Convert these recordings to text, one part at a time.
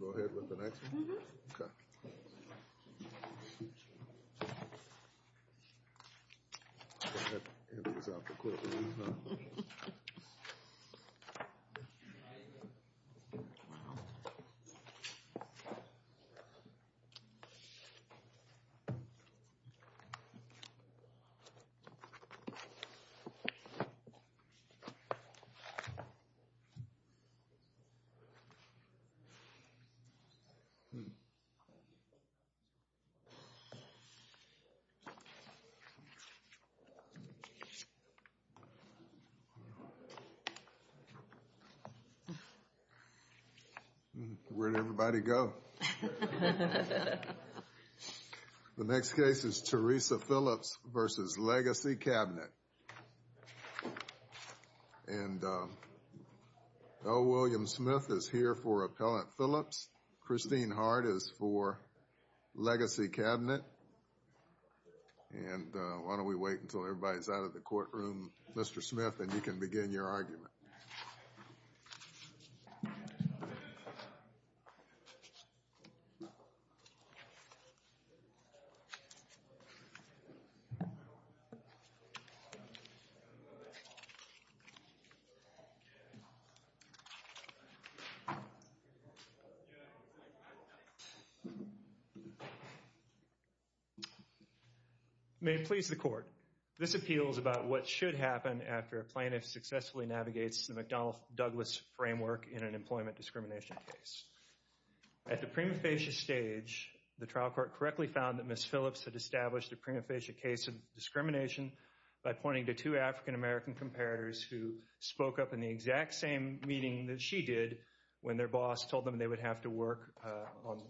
Go ahead with the next one? Mm-hmm. Okay. That was awful quickly, huh? Mm-hmm. Where'd everybody go? The next case is Teresa Phillips v. Legacy Cabinet. And L. William Smith is here for Appellant Phillips. Christine Hart is for Legacy Cabinet. And why don't we wait until everybody's out of the courtroom, Mr. Smith, and you can begin your argument. May it please the Court, this appeal is about what should happen after a plaintiff successfully navigates the McDonnell-Douglas framework in an employment discrimination case. At the prima facie stage, the trial court correctly found that Ms. Phillips had established a prima facie case of discrimination by pointing to two African-American comparators who spoke up in the exact same meeting that she did when their boss told them they would have to work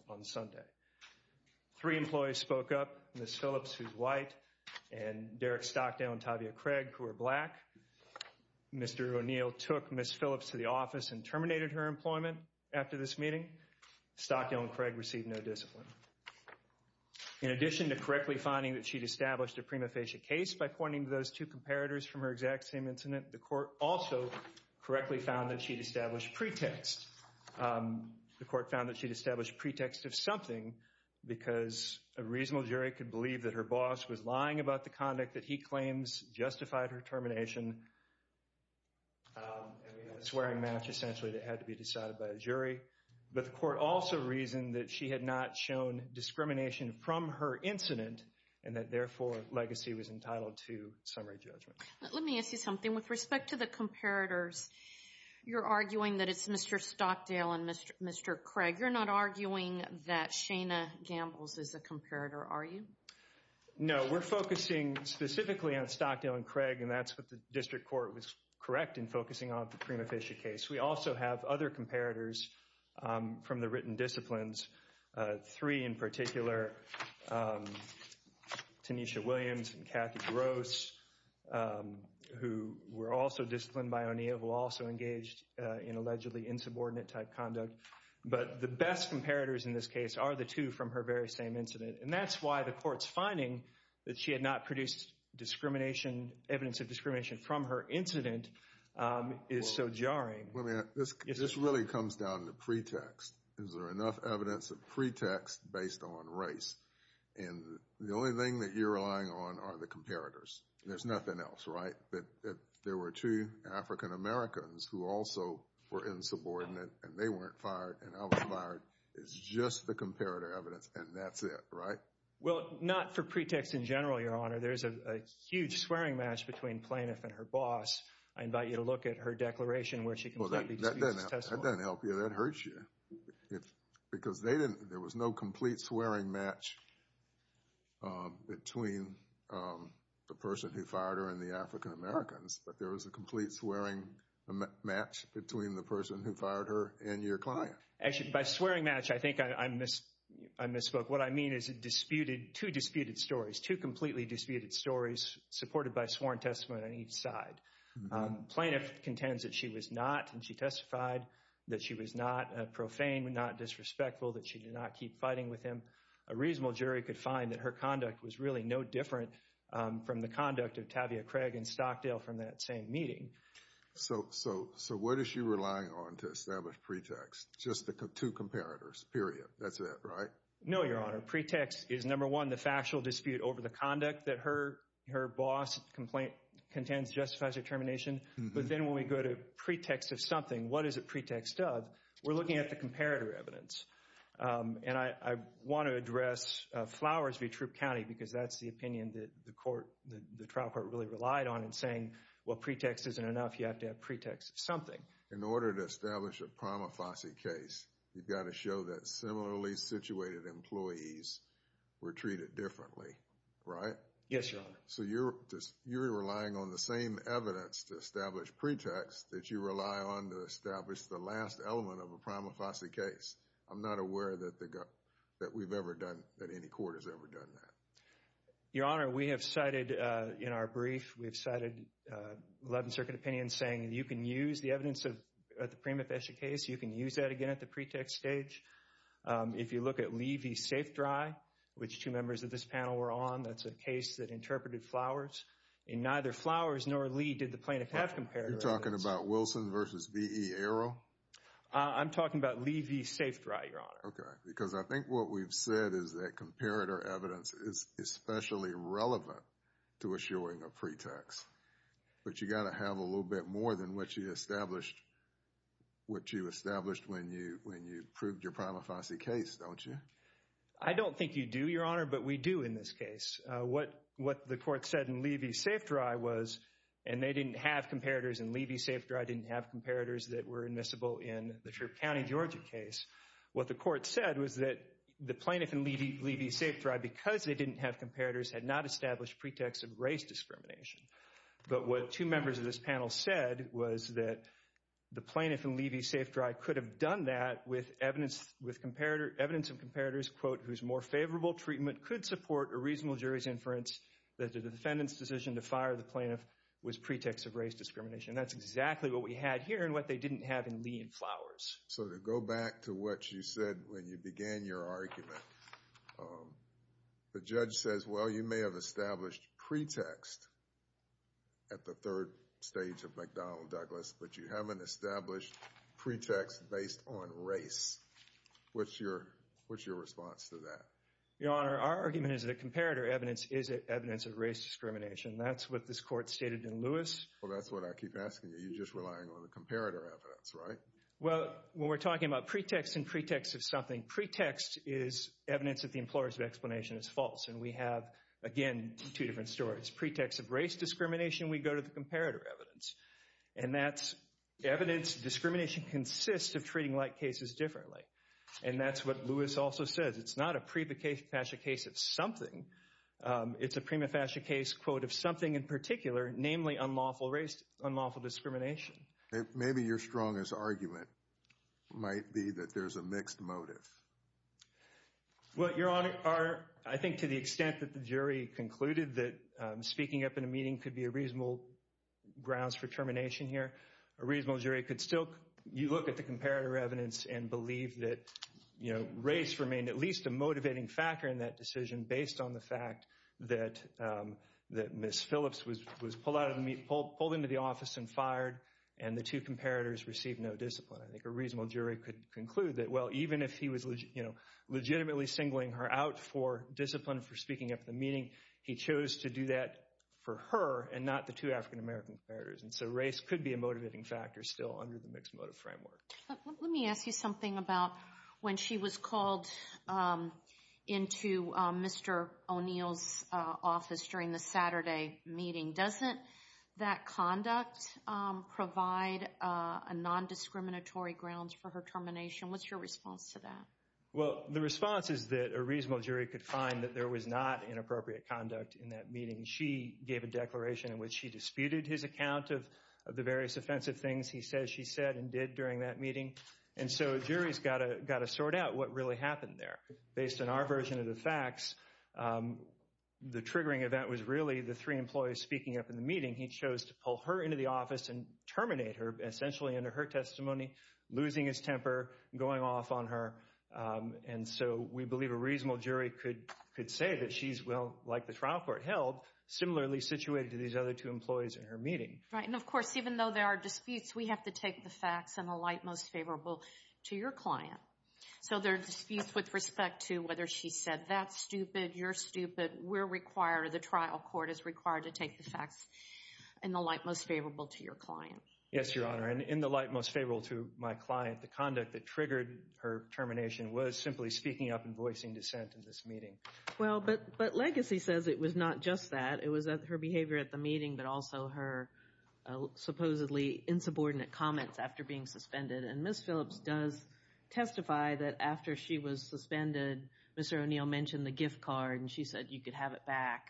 on Sunday. Three employees spoke up, Ms. Phillips, who's white, and Derek Stockdale and Tavia Craig, who are black. Mr. O'Neill took Ms. Phillips to the office and terminated her employment after this meeting. Stockdale and Craig received no discipline. In addition to correctly finding that she'd established a prima facie case by pointing to those two comparators from her exact same incident, the court also correctly found that she'd established pretext. The court found that she'd established pretext of something because a reasonable jury could believe that her boss was lying about the conduct that he claims justified her termination. A swearing match, essentially, that had to be decided by a jury. But the court also reasoned that she had not shown discrimination from her incident and that, therefore, legacy was entitled to summary judgment. Let me ask you something. With respect to the comparators, you're arguing that it's Mr. Stockdale and Mr. Craig. You're not arguing that Shana Gambles is a comparator, are you? No. We're focusing specifically on Stockdale and Craig, and that's what the district court was correct in focusing on with the prima facie case. We also have other comparators from the written disciplines, three in gross, who were also disciplined by O'Neill, who also engaged in allegedly insubordinate-type conduct. But the best comparators in this case are the two from her very same incident, and that's why the court's finding that she had not produced evidence of discrimination from her incident is so jarring. This really comes down to pretext. Is there enough evidence of pretext based on race? The only thing that you're relying on are the comparators. There's nothing else, right? There were two African-Americans who also were insubordinate, and they weren't fired, and I was fired. It's just the comparator evidence, and that's it, right? Well, not for pretext in general, Your Honor. There's a huge swearing match between Plaintiff and her boss. I invite you to look at her declaration where she completely disputes this testimony. That doesn't help you. That hurts you. Because there was no complete swearing match between the person who fired her and the African-Americans, but there was a complete swearing match between the person who fired her and your client. Actually, by swearing match, I think I misspoke. What I mean is two disputed stories, two completely disputed stories supported by sworn testimony on each side. Plaintiff contends that she was not, and she testified that she was not profane, not disrespectful, that she did not keep fighting with him. A reasonable jury could find that her conduct was really no different from the conduct of Tavia Craig and Stockdale from that same meeting. So what is she relying on to establish pretext? Just the two comparators, period. That's it, right? No, Your Honor. Pretext is, number one, the factual dispute over the conduct that her boss contends justifies her termination. But then when we go to pretext of something, what is it pretext of? We're looking at the comparator evidence. And I want to address Flowers v. Troop County because that's the opinion that the trial court really relied on in saying, well, pretext isn't enough. You have to have pretext of something. In order to establish a prima facie case, you've got to show that similarly situated employees were treated differently, right? Yes, Your Honor. So you're relying on the same evidence to establish pretext that you rely on to establish the last element of a prima facie case. I'm not aware that we've ever done, that any court has ever done that. Your Honor, we have cited in our brief, we've cited 11th Circuit opinion saying you can use the evidence of the prima facie case, you can use that again at the pretext stage. If you look at Levy v. Safedry, which two members of this panel were on, that's a case that interpreted Flowers. In neither Flowers nor Levy did the plaintiff have comparator evidence. You're talking about Wilson v. B.E. Arrow? I'm talking about Levy v. Safedry, Your Honor. Okay, because I think what we've said is that comparator evidence is especially relevant to assuring a pretext. But you've got to have a little bit more than what you established when you proved your prima facie case, don't you? I don't think you do, Your Honor, but we do in this case. What the court said in Levy v. Safedry was, and they didn't have comparators and Levy v. Safedry didn't have comparators that were admissible in the Troup County, Georgia case. What the court said was that the plaintiff in Levy v. Safedry, because they didn't have comparators, had not established pretext of race discrimination. But what two members of this panel said was that the plaintiff in Levy v. Safedry did have comparators, quote, whose more favorable treatment could support a reasonable jury's inference that the defendant's decision to fire the plaintiff was pretext of race discrimination. That's exactly what we had here and what they didn't have in Lee v. Flowers. So to go back to what you said when you began your argument, the judge says, well, you may have established pretext at the third stage of McDonnell v. Douglas, but you haven't established pretext based on race. What's your response to that? Your Honor, our argument is that comparator evidence is evidence of race discrimination. That's what this court stated in Lewis. Well, that's what I keep asking you. You're just relying on the comparator evidence, right? Well, when we're talking about pretext and pretext of something, pretext is evidence that the employer's explanation is false, and we have, again, two different stories. Pretext of race discrimination, we go to the comparator evidence, and that's evidence discrimination consists of treating like cases differently, and that's what Lewis also says. It's not a prima facie case of something. It's a prima facie case, quote, of something in particular, namely unlawful race, unlawful discrimination. Maybe your strongest argument might be that there's a mixed motive. Well, Your Honor, I think to the extent that the jury concluded that speaking up in a meeting could be a reasonable grounds for termination here, a reasonable jury could still look at the comparator evidence and believe that race remained at least a motivating factor in that decision based on the fact that Ms. Phillips was pulled into the office and fired, and the two comparators received no discipline. I think a reasonable jury could conclude that, well, even if he was legitimately singling her out for discipline for speaking up at the meeting, he chose to do that for her and not the two African-American comparators, and so race could be a motivating factor still under the mixed motive framework. Let me ask you something about when she was called into Mr. O'Neill's office during the Saturday meeting. Doesn't that conduct provide a nondiscriminatory grounds for her termination? What's your response to that? Well, the response is that a reasonable jury could find that there was not inappropriate conduct in that meeting. She gave a declaration in which she disputed his account of the various offensive things he said she said and did during that meeting, and so a jury's got to sort out what really happened there. Based on our version of the facts, the triggering event was really the three employees speaking up in the meeting. He chose to pull her into the office and terminate her, and essentially, under her testimony, losing his temper, going off on her. And so we believe a reasonable jury could say that she's, well, like the trial court held, similarly situated to these other two employees in her meeting. Right, and of course, even though there are disputes, we have to take the facts in the light most favorable to your client. So there are disputes with respect to whether she said that's stupid, you're stupid. We're required, or the trial court is required, to take the facts in the light most favorable to your client. Yes, Your Honor, and in the light most favorable to my client, the conduct that triggered her termination was simply speaking up and voicing dissent in this meeting. Well, but Legacy says it was not just that. It was her behavior at the meeting, but also her supposedly insubordinate comments after being suspended, and Ms. Phillips does testify that after she was suspended, Mr. O'Neill mentioned the gift card, and she said you could have it back.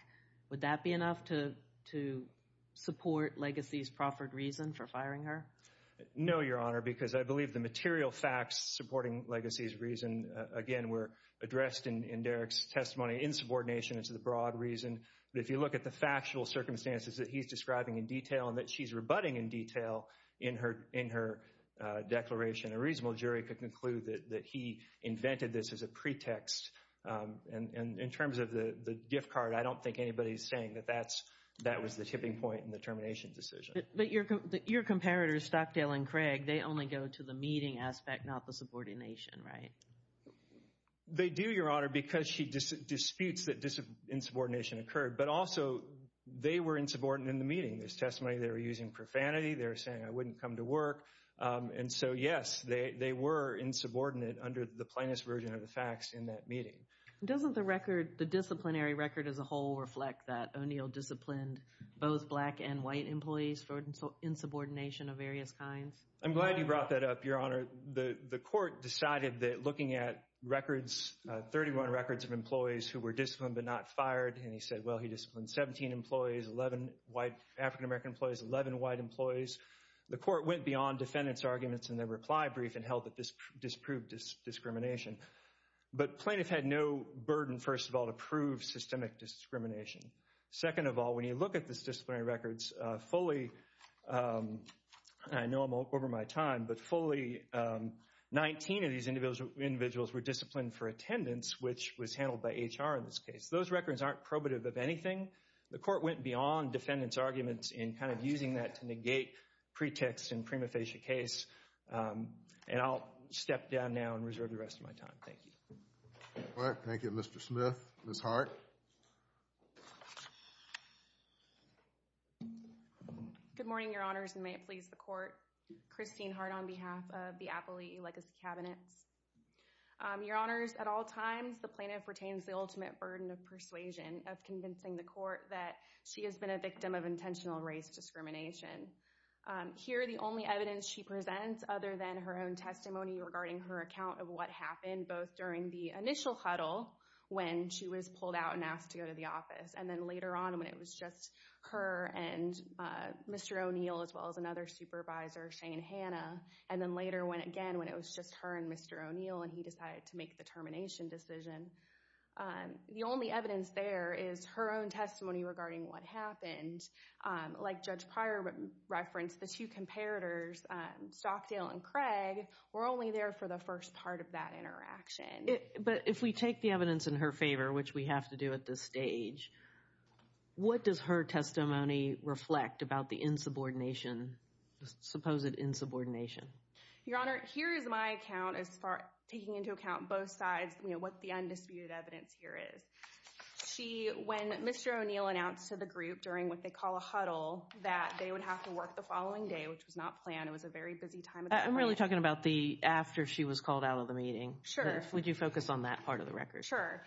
Would that be enough to support Legacy's proffered reason for firing her? No, Your Honor, because I believe the material facts supporting Legacy's reason, again, were addressed in Derek's testimony, insubordination is the broad reason. But if you look at the factual circumstances that he's describing in detail and that she's rebutting in detail in her declaration, a reasonable jury could conclude that he invented this as a pretext. And in terms of the gift card, I don't think anybody's saying that that was the tipping point in the termination decision. But your comparators, Stockdale and Craig, they only go to the meeting aspect, not the subordination, right? They do, Your Honor, because she disputes that insubordination occurred, but also they were insubordinate in the meeting. In this testimony, they were using profanity. They were saying, I wouldn't come to work. And so, yes, they were insubordinate under the plaintiff's version of the facts in that meeting. Doesn't the record, the disciplinary record as a whole, reflect that O'Neill disciplined both black and white employees for insubordination of various kinds? I'm glad you brought that up, Your Honor. The court decided that looking at records, 31 records of employees who were disciplined but not fired, and he said, well, he disciplined 17 employees, 11 white African-American employees, 11 white employees. The court went beyond defendant's arguments in the reply brief and held that this disproved discrimination. But plaintiff had no burden, first of all, to prove systemic discrimination. Second of all, when you look at the disciplinary records, fully, and I know I'm over my time, but fully 19 of these individuals were disciplined for attendance, which was handled by HR in this case. Those records aren't probative of anything. The court went beyond defendant's arguments in kind of using that to negate pretext in prima facie case. And I'll step down now and reserve the rest of my time. Thank you. All right. Thank you, Mr. Smith. Ms. Hart. Good morning, Your Honors, and may it please the court. Christine Hart on behalf of the Appley Legacy Cabinets. Your Honors, at all times the plaintiff retains the ultimate burden of persuasion of convincing the court that she has been a victim of intentional race discrimination. Here the only evidence she presents other than her own testimony regarding her account of what happened both during the initial huddle when she was pulled out and asked to go to the office, and then later on when it was just her and Mr. O'Neill, as well as another supervisor, Shane Hanna, and then later again when it was just her and Mr. O'Neill and he decided to make the termination decision. The only evidence there is her own testimony regarding what happened. Like Judge Pryor referenced, the two comparators, Stockdale and Craig, were only there for the first part of that interaction. But if we take the evidence in her favor, which we have to do at this stage, what does her testimony reflect about the insubordination, supposed insubordination? Your Honor, here is my account as far as taking into account both sides, what the undisputed evidence here is. When Mr. O'Neill announced to the group during what they call a huddle that they would have to work the following day, which was not planned. It was a very busy time. I'm really talking about after she was called out of the meeting. Would you focus on that part of the record? Sure.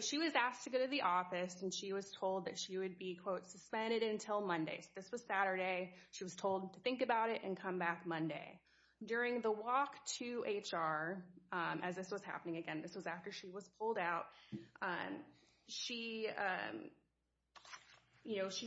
She was asked to go to the office, and she was told that she would be quote, suspended until Monday. This was Saturday. She was told to think about it and come back Monday. During the walk to HR, as this was happening again, this was after she was pulled out, she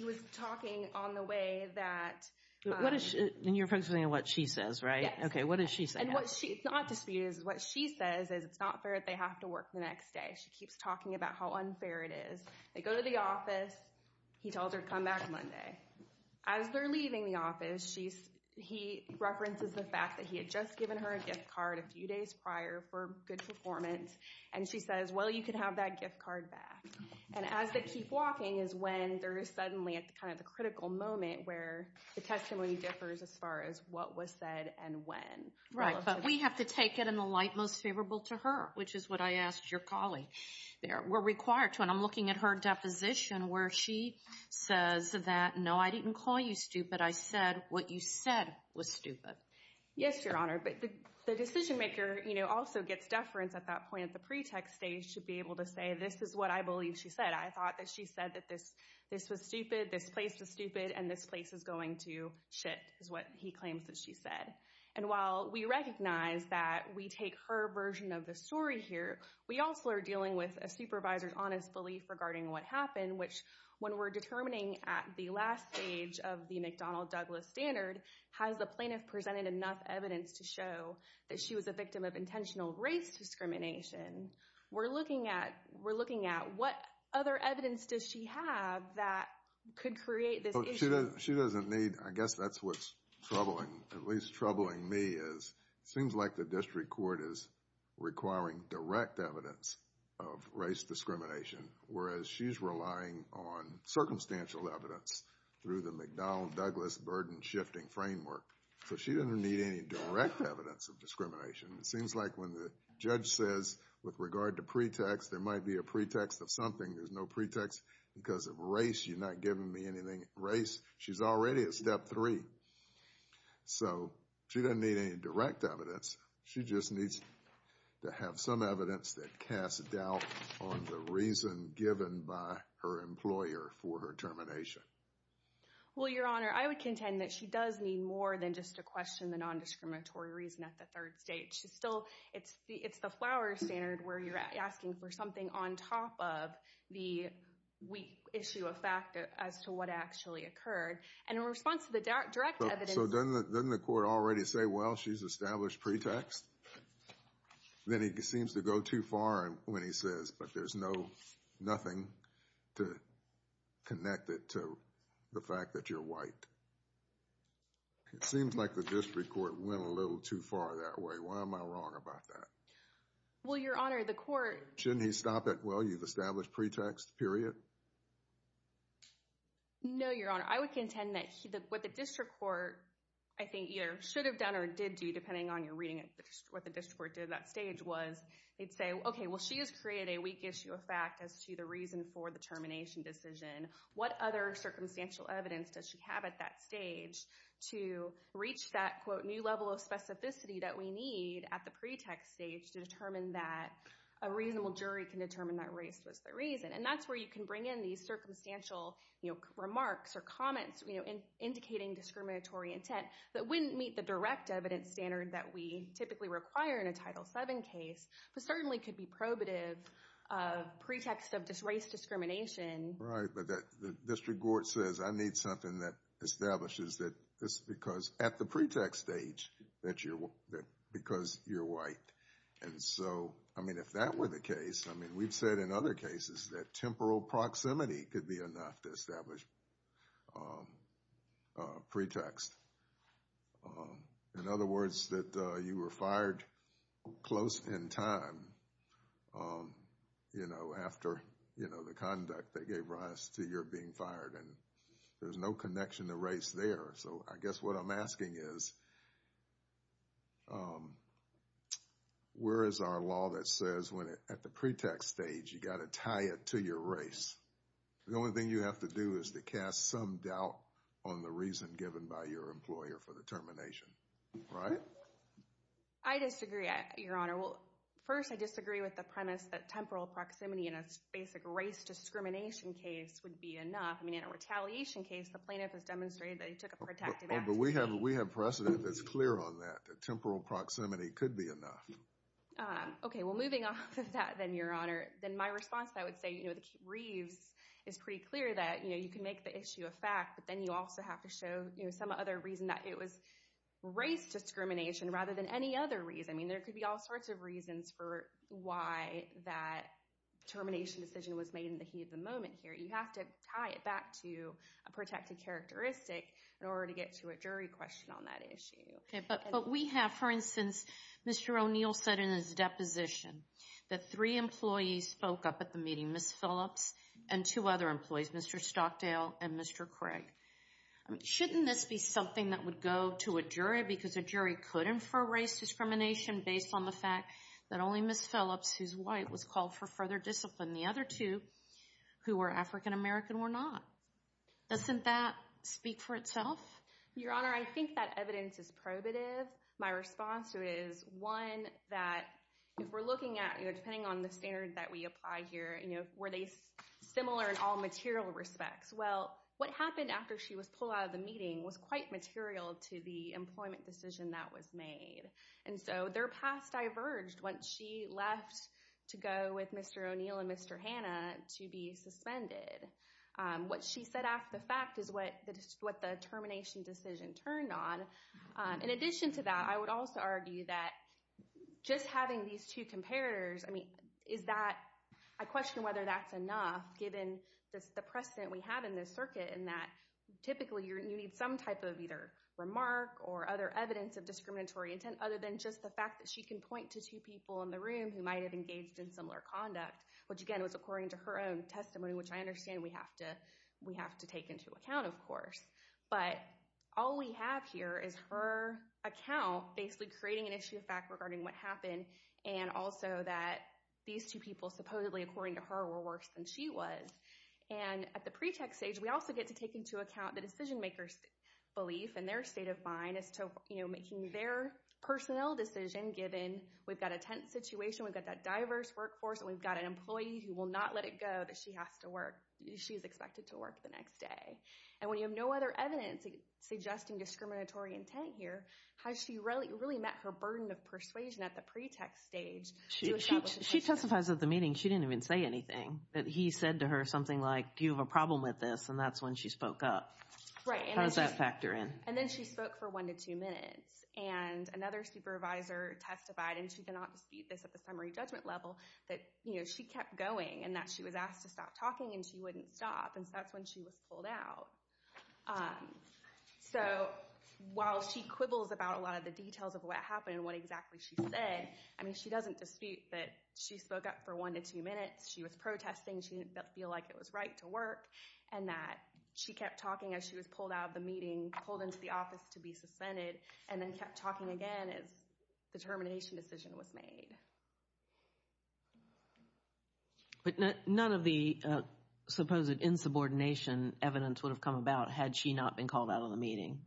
was talking on the way that— And you're focusing on what she says, right? Yes. Okay, what does she say? It's not disputed. What she says is it's not fair that they have to work the next day. She keeps talking about how unfair it is. They go to the office. He tells her to come back Monday. As they're leaving the office, he references the fact that he had just given her a gift card a few days prior for good performance, and she says, well, you can have that gift card back. And as they keep walking is when there is suddenly kind of a critical moment where the testimony differs as far as what was said and when. Right, but we have to take it in the light most favorable to her, which is what I asked your colleague. We're required to. And I'm looking at her deposition where she says that, no, I didn't call you stupid. I said what you said was stupid. Yes, Your Honor. But the decision-maker also gets deference at that point at the pretext stage to be able to say this is what I believe she said. I thought that she said that this was stupid, this place was stupid, and this place is going to shit is what he claims that she said. And while we recognize that we take her version of the story here, we also are dealing with a supervisor's honest belief regarding what happened, which when we're determining at the last stage of the McDonnell-Douglas standard, has the plaintiff presented enough evidence to show that she was a victim of intentional race discrimination? We're looking at what other evidence does she have that could create this issue? She doesn't need. I guess that's what's troubling, at least troubling me, is it seems like the district court is requiring direct evidence of race discrimination, whereas she's relying on circumstantial evidence through the McDonnell-Douglas burden-shifting framework. So she doesn't need any direct evidence of discrimination. It seems like when the judge says with regard to pretext, there might be a pretext of something. There's no pretext because of race. You're not giving me anything race. She's already at step three. So she doesn't need any direct evidence. She just needs to have some evidence that casts doubt on the reason given by her employer for her termination. Well, Your Honor, I would contend that she does need more than just to question the nondiscriminatory reason at the third stage. She's still, it's the Flowers standard where you're asking for something on top of the issue of fact as to what actually occurred. And in response to the direct evidence... So doesn't the court already say, well, she's established pretext? Then he seems to go too far when he says, but there's nothing to connect it to the fact that you're white. It seems like the district court went a little too far that way. Why am I wrong about that? Well, Your Honor, the court... Shouldn't he stop at, well, you've established pretext, period? No, Your Honor. I would contend that what the district court, I think, either should have done or did do, depending on your reading of what the district court did at that stage, was they'd say, okay, well, she has created a weak issue of fact as to the reason for the termination decision. What other circumstantial evidence does she have at that stage to reach that, quote, new level of specificity that we need at the pretext stage to determine that a reasonable jury can determine that race was the reason? And that's where you can bring in these circumstantial remarks or comments indicating discriminatory intent that wouldn't meet the direct evidence standard that we typically require in a Title VII case, but certainly could be probative pretext of race discrimination. Right, but the district court says, I need something that establishes that this is because at the pretext stage, because you're white. And so, I mean, if that were the case, I mean, we've said in other cases that temporal proximity could be enough to establish pretext. In other words, that you were fired close in time, you know, after, you know, the conduct that gave rise to your being fired, and there's no connection to race there. So, I guess what I'm asking is, where is our law that says when at the pretext stage, you've got to tie it to your race? The only thing you have to do is to cast some doubt on the reason given by your employer for the termination, right? I disagree, Your Honor. Well, first, I disagree with the premise that temporal proximity in a basic race discrimination case would be enough. I mean, in a retaliation case, the plaintiff has demonstrated that he took a protective action. No, but we have precedent that's clear on that, that temporal proximity could be enough. Okay, well, moving off of that then, Your Honor, then my response, I would say, you know, the Reeves is pretty clear that, you know, you can make the issue a fact, but then you also have to show, you know, some other reason that it was race discrimination rather than any other reason. I mean, there could be all sorts of reasons for why that termination decision was made in the heat of the moment here. You have to tie it back to a protective characteristic in order to get to a jury question on that issue. Okay, but we have, for instance, Mr. O'Neill said in his deposition that three employees spoke up at the meeting, Ms. Phillips and two other employees, Mr. Stockdale and Mr. Craig. Shouldn't this be something that would go to a jury because a jury could infer race discrimination based on the fact that only Ms. Phillips, who's white, was called for further discipline. The other two, who were African American, were not. Doesn't that speak for itself? Your Honor, I think that evidence is probative. My response to it is, one, that if we're looking at, you know, depending on the standard that we apply here, you know, were they similar in all material respects? Well, what happened after she was pulled out of the meeting was quite material to the employment decision that was made. And so their paths diverged once she left to go with Mr. O'Neill and Mr. Hanna to be suspended. What she said after the fact is what the termination decision turned on. In addition to that, I would also argue that just having these two comparators, I mean, is that, I question whether that's enough given the precedent we have in this circuit in that typically you need some type of either remark or other evidence of discriminatory intent other than just the fact that she can point to two people in the room who might have engaged in similar conduct, which, again, was according to her own testimony, which I understand we have to take into account, of course. But all we have here is her account basically creating an issue of fact regarding what happened and also that these two people supposedly, according to her, were worse than she was. And at the pretext stage, we also get to take into account the decision-maker's belief and their state of mind as to, you know, making their personnel decision given we've got a tense situation, we've got that diverse workforce, and we've got an employee who will not let it go that she has to work. She is expected to work the next day. And when you have no other evidence suggesting discriminatory intent here, has she really met her burden of persuasion at the pretext stage? She testified at the meeting. She didn't even say anything. He said to her something like, you have a problem with this, and that's when she spoke up. How does that factor in? And then she spoke for one to two minutes. And another supervisor testified, and she cannot dispute this at the summary judgment level, that she kept going and that she was asked to stop talking, and she wouldn't stop, and so that's when she was pulled out. So while she quibbles about a lot of the details of what happened and what exactly she said, I mean, she doesn't dispute that she spoke up for one to two minutes, she was protesting, she didn't feel like it was right to work, and that she kept talking as she was pulled out of the meeting, pulled into the office to be suspended, and then kept talking again as the termination decision was made. But none of the supposed insubordination evidence would have come about had she not been called out of the meeting.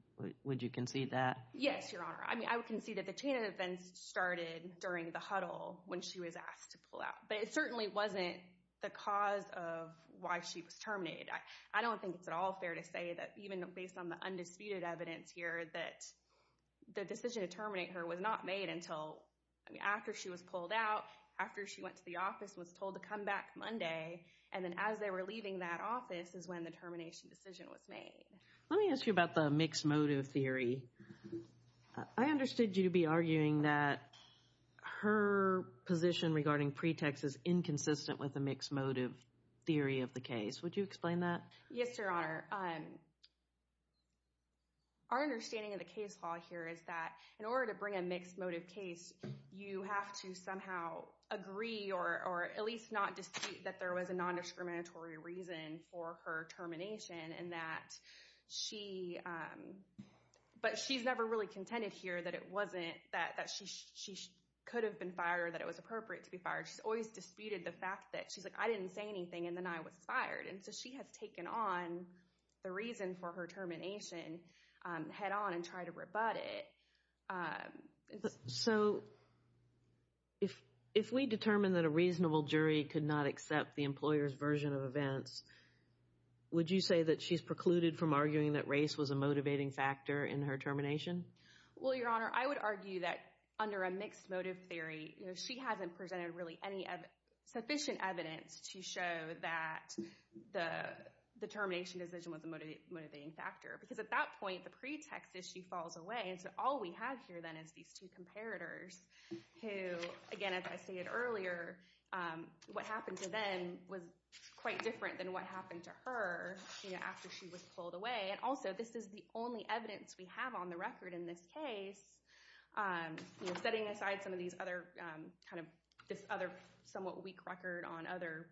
Would you concede that? Yes, Your Honor. I mean, I would concede that the chain of events started during the huddle when she was asked to pull out. But it certainly wasn't the cause of why she was terminated. I don't think it's at all fair to say that, even based on the undisputed evidence here, that the decision to terminate her was not made until after she was pulled out, after she went to the office and was told to come back Monday, and then as they were leaving that office is when the termination decision was made. Let me ask you about the mixed motive theory. I understood you to be arguing that her position regarding pretext is inconsistent with the mixed motive theory of the case. Would you explain that? Yes, Your Honor. Our understanding of the case law here is that in order to bring a mixed motive case, you have to somehow agree or at least not dispute that there was a non-discriminatory reason for her termination. But she's never really contended here that she could have been fired or that it was appropriate to be fired. She's always disputed the fact that she's like, I didn't say anything and then I was fired. And so she has taken on the reason for her termination head on and tried to rebut it. So if we determine that a reasonable jury could not accept the employer's version of events, would you say that she's precluded from arguing that race was a motivating factor in her termination? Well, Your Honor, I would argue that under a mixed motive theory, she hasn't presented really any sufficient evidence to show that the termination decision was a motivating factor. Because at that point, the pretext is she falls away. And so all we have here then is these two comparators who, again, as I stated earlier, what happened to them was quite different than what happened to her after she was pulled away. And also, this is the only evidence we have on the record in this case. Setting aside some of this other somewhat weak record on other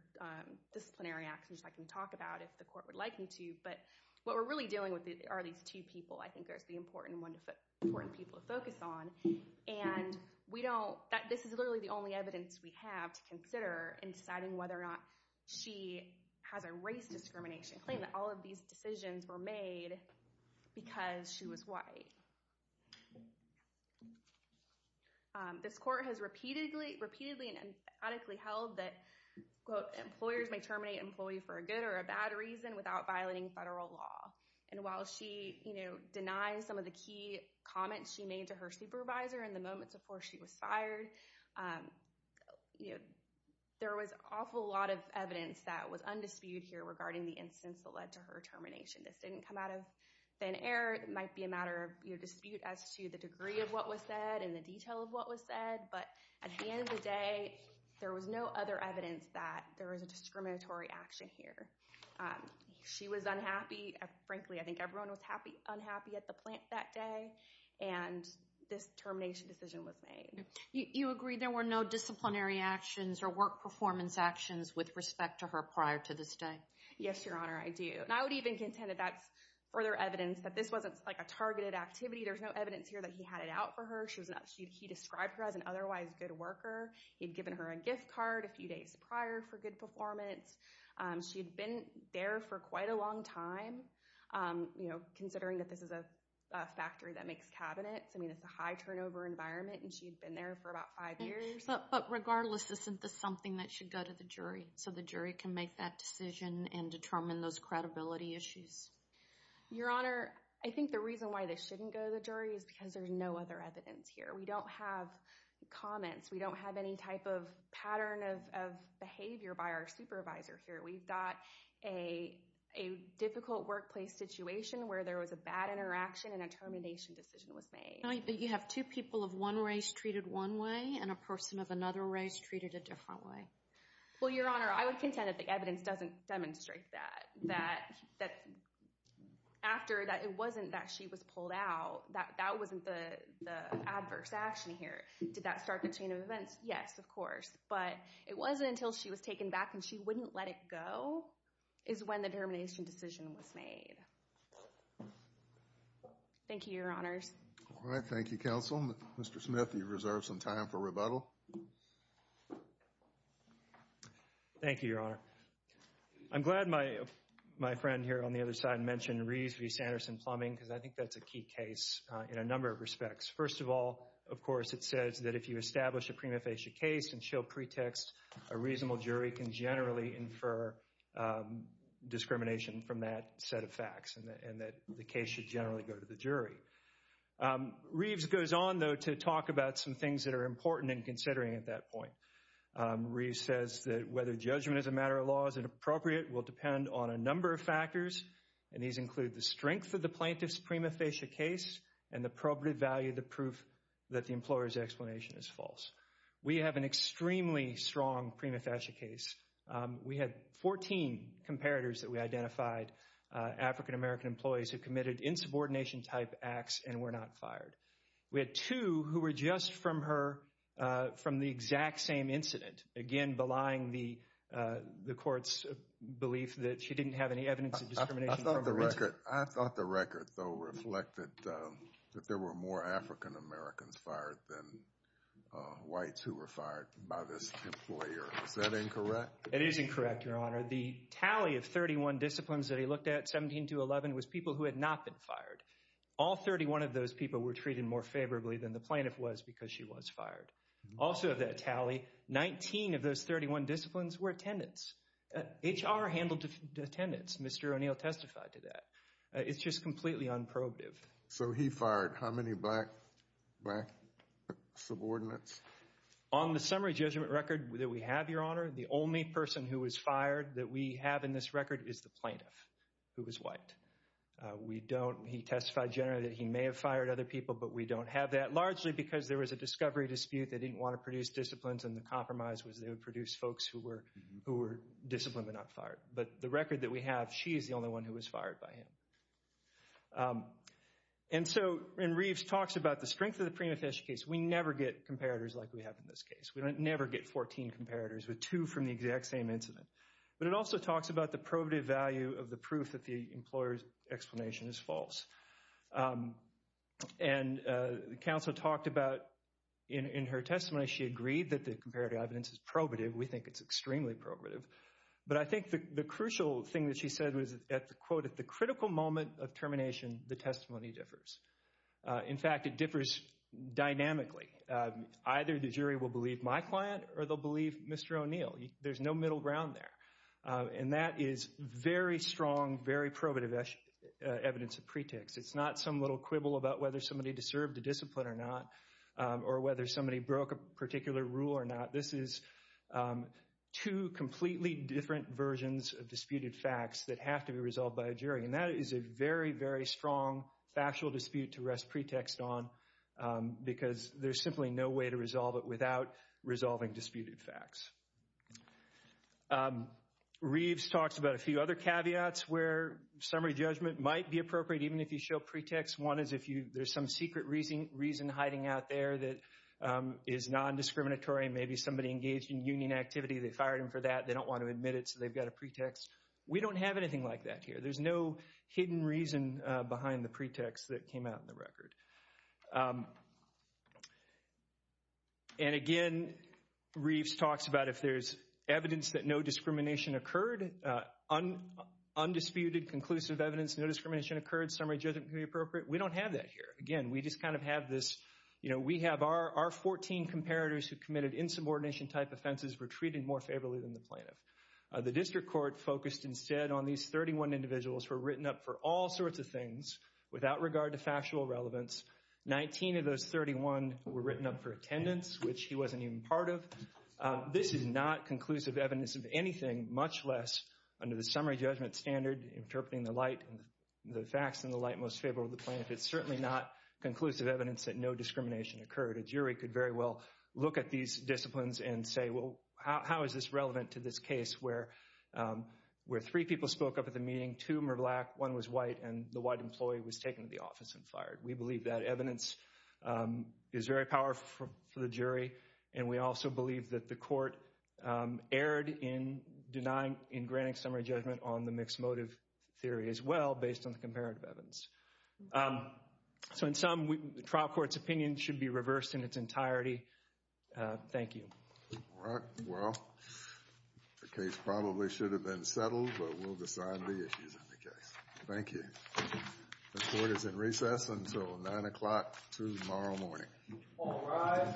disciplinary actions I can talk about if the court would like me to. But what we're really dealing with are these two people, I think, are the important people to focus on. And this is literally the only evidence we have to consider in deciding whether or not she has a race discrimination claim, that all of these decisions were made because she was white. This court has repeatedly and emphatically held that, quote, employers may terminate an employee for a good or a bad reason without violating federal law. And while she denies some of the key comments she made to her supervisor in the moments before she was fired, there was an awful lot of evidence that was undisputed here regarding the instance that led to her termination. This didn't come out of thin air. It might be a matter of dispute as to the degree of what was said and the detail of what was said. But at the end of the day, there was no other evidence that there was a discriminatory action here. She was unhappy. Frankly, I think everyone was unhappy at the plant that day. And this termination decision was made. You agree there were no disciplinary actions or work performance actions with respect to her prior to this day? Yes, Your Honor, I do. And I would even contend that that's further evidence that this wasn't a targeted activity. There's no evidence here that he had it out for her. He described her as an otherwise good worker. He had given her a gift card a few days prior for good performance. She had been there for quite a long time, considering that this is a factory that makes cabinets. I mean, it's a high-turnover environment, and she had been there for about five years. But regardless, isn't this something that should go to the jury so the jury can make that decision and determine those credibility issues? Your Honor, I think the reason why this shouldn't go to the jury is because there's no other evidence here. We don't have comments. We don't have any type of pattern of behavior by our supervisor here. We've got a difficult workplace situation where there was a bad interaction and a termination decision was made. But you have two people of one race treated one way and a person of another race treated a different way. Well, Your Honor, I would contend that the evidence doesn't demonstrate that. After that, it wasn't that she was pulled out. That wasn't the adverse action here. Did that start the chain of events? Yes, of course. But it wasn't until she was taken back and she wouldn't let it go is when the termination decision was made. Thank you, Your Honors. All right. Thank you, Counsel. Mr. Smith, you've reserved some time for rebuttal. Thank you, Your Honor. I'm glad my friend here on the other side mentioned Reeves v. Sanderson-Plumbing because I think that's a key case in a number of respects. First of all, of course, it says that if you establish a prima facie case and show pretext, a reasonable jury can generally infer discrimination from that set of facts and that the case should generally go to the jury. Reeves goes on, though, to talk about some things that are important in considering at that point. Reeves says that whether judgment as a matter of law is inappropriate will depend on a number of factors, and these include the strength of the plaintiff's prima facie case and the appropriate value of the proof that the employer's explanation is false. We have an extremely strong prima facie case. We had 14 comparators that we identified, African-American employees who committed insubordination-type acts and were not fired. We had two who were just from the exact same incident, again, belying the court's belief that she didn't have any evidence of discrimination. I thought the record, though, reflected that there were more African-Americans fired than whites who were fired by this employer. Is that incorrect? It is incorrect, Your Honor. The tally of 31 disciplines that he looked at, 17 to 11, was people who had not been fired. All 31 of those people were treated more favorably than the plaintiff was because she was fired. Also of that tally, 19 of those 31 disciplines were attendants. HR handled attendants. Mr. O'Neill testified to that. It's just completely unprobative. So he fired how many black subordinates? On the summary judgment record that we have, Your Honor, the only person who was fired that we have in this record is the plaintiff who was white. We don't—he testified generally that he may have fired other people, but we don't have that, largely because there was a discovery dispute. They didn't want to produce disciplines, and the compromise was they would produce folks who were disciplined but not fired. But the record that we have, she is the only one who was fired by him. And so—and Reeves talks about the strength of the prima facie case. We never get comparators like we have in this case. We never get 14 comparators with two from the exact same incident. But it also talks about the probative value of the proof that the employer's explanation is false. And counsel talked about—in her testimony, she agreed that the comparative evidence is probative. We think it's extremely probative. But I think the crucial thing that she said was, quote, at the critical moment of termination, the testimony differs. In fact, it differs dynamically. Either the jury will believe my client or they'll believe Mr. O'Neill. There's no middle ground there. And that is very strong, very probative evidence of pretext. It's not some little quibble about whether somebody deserved a discipline or not or whether somebody broke a particular rule or not. This is two completely different versions of disputed facts that have to be resolved by a jury. And that is a very, very strong factual dispute to rest pretext on because there's simply no way to resolve it without resolving disputed facts. Reeves talks about a few other caveats where summary judgment might be appropriate, even if you show pretext. One is if there's some secret reason hiding out there that is nondiscriminatory. Maybe somebody engaged in union activity, they fired them for that, they don't want to admit it, so they've got a pretext. We don't have anything like that here. There's no hidden reason behind the pretext that came out in the record. And again, Reeves talks about if there's evidence that no discrimination occurred, undisputed conclusive evidence, no discrimination occurred, summary judgment could be appropriate. We don't have that here. Again, we just kind of have this, you know, we have our 14 comparators who committed insubordination-type offenses were treated more favorably than the plaintiff. The district court focused instead on these 31 individuals who were written up for all sorts of things without regard to factual relevance. Nineteen of those 31 were written up for attendance, which he wasn't even part of. This is not conclusive evidence of anything, much less under the summary judgment standard, interpreting the facts in the light most favorable to the plaintiff. It's certainly not conclusive evidence that no discrimination occurred. A jury could very well look at these disciplines and say, well, how is this relevant to this case where three people spoke up at the meeting, two were black, one was white, and the white employee was taken to the office and fired. We believe that evidence is very powerful for the jury, and we also believe that the court erred in denying, in granting summary judgment on the mixed motive theory as well, based on the comparative evidence. So in sum, the trial court's opinion should be reversed in its entirety. Thank you. All right. Well, the case probably should have been settled, but we'll decide the issues in the case. Thank you. The court is in recess until 9 o'clock tomorrow morning. All rise.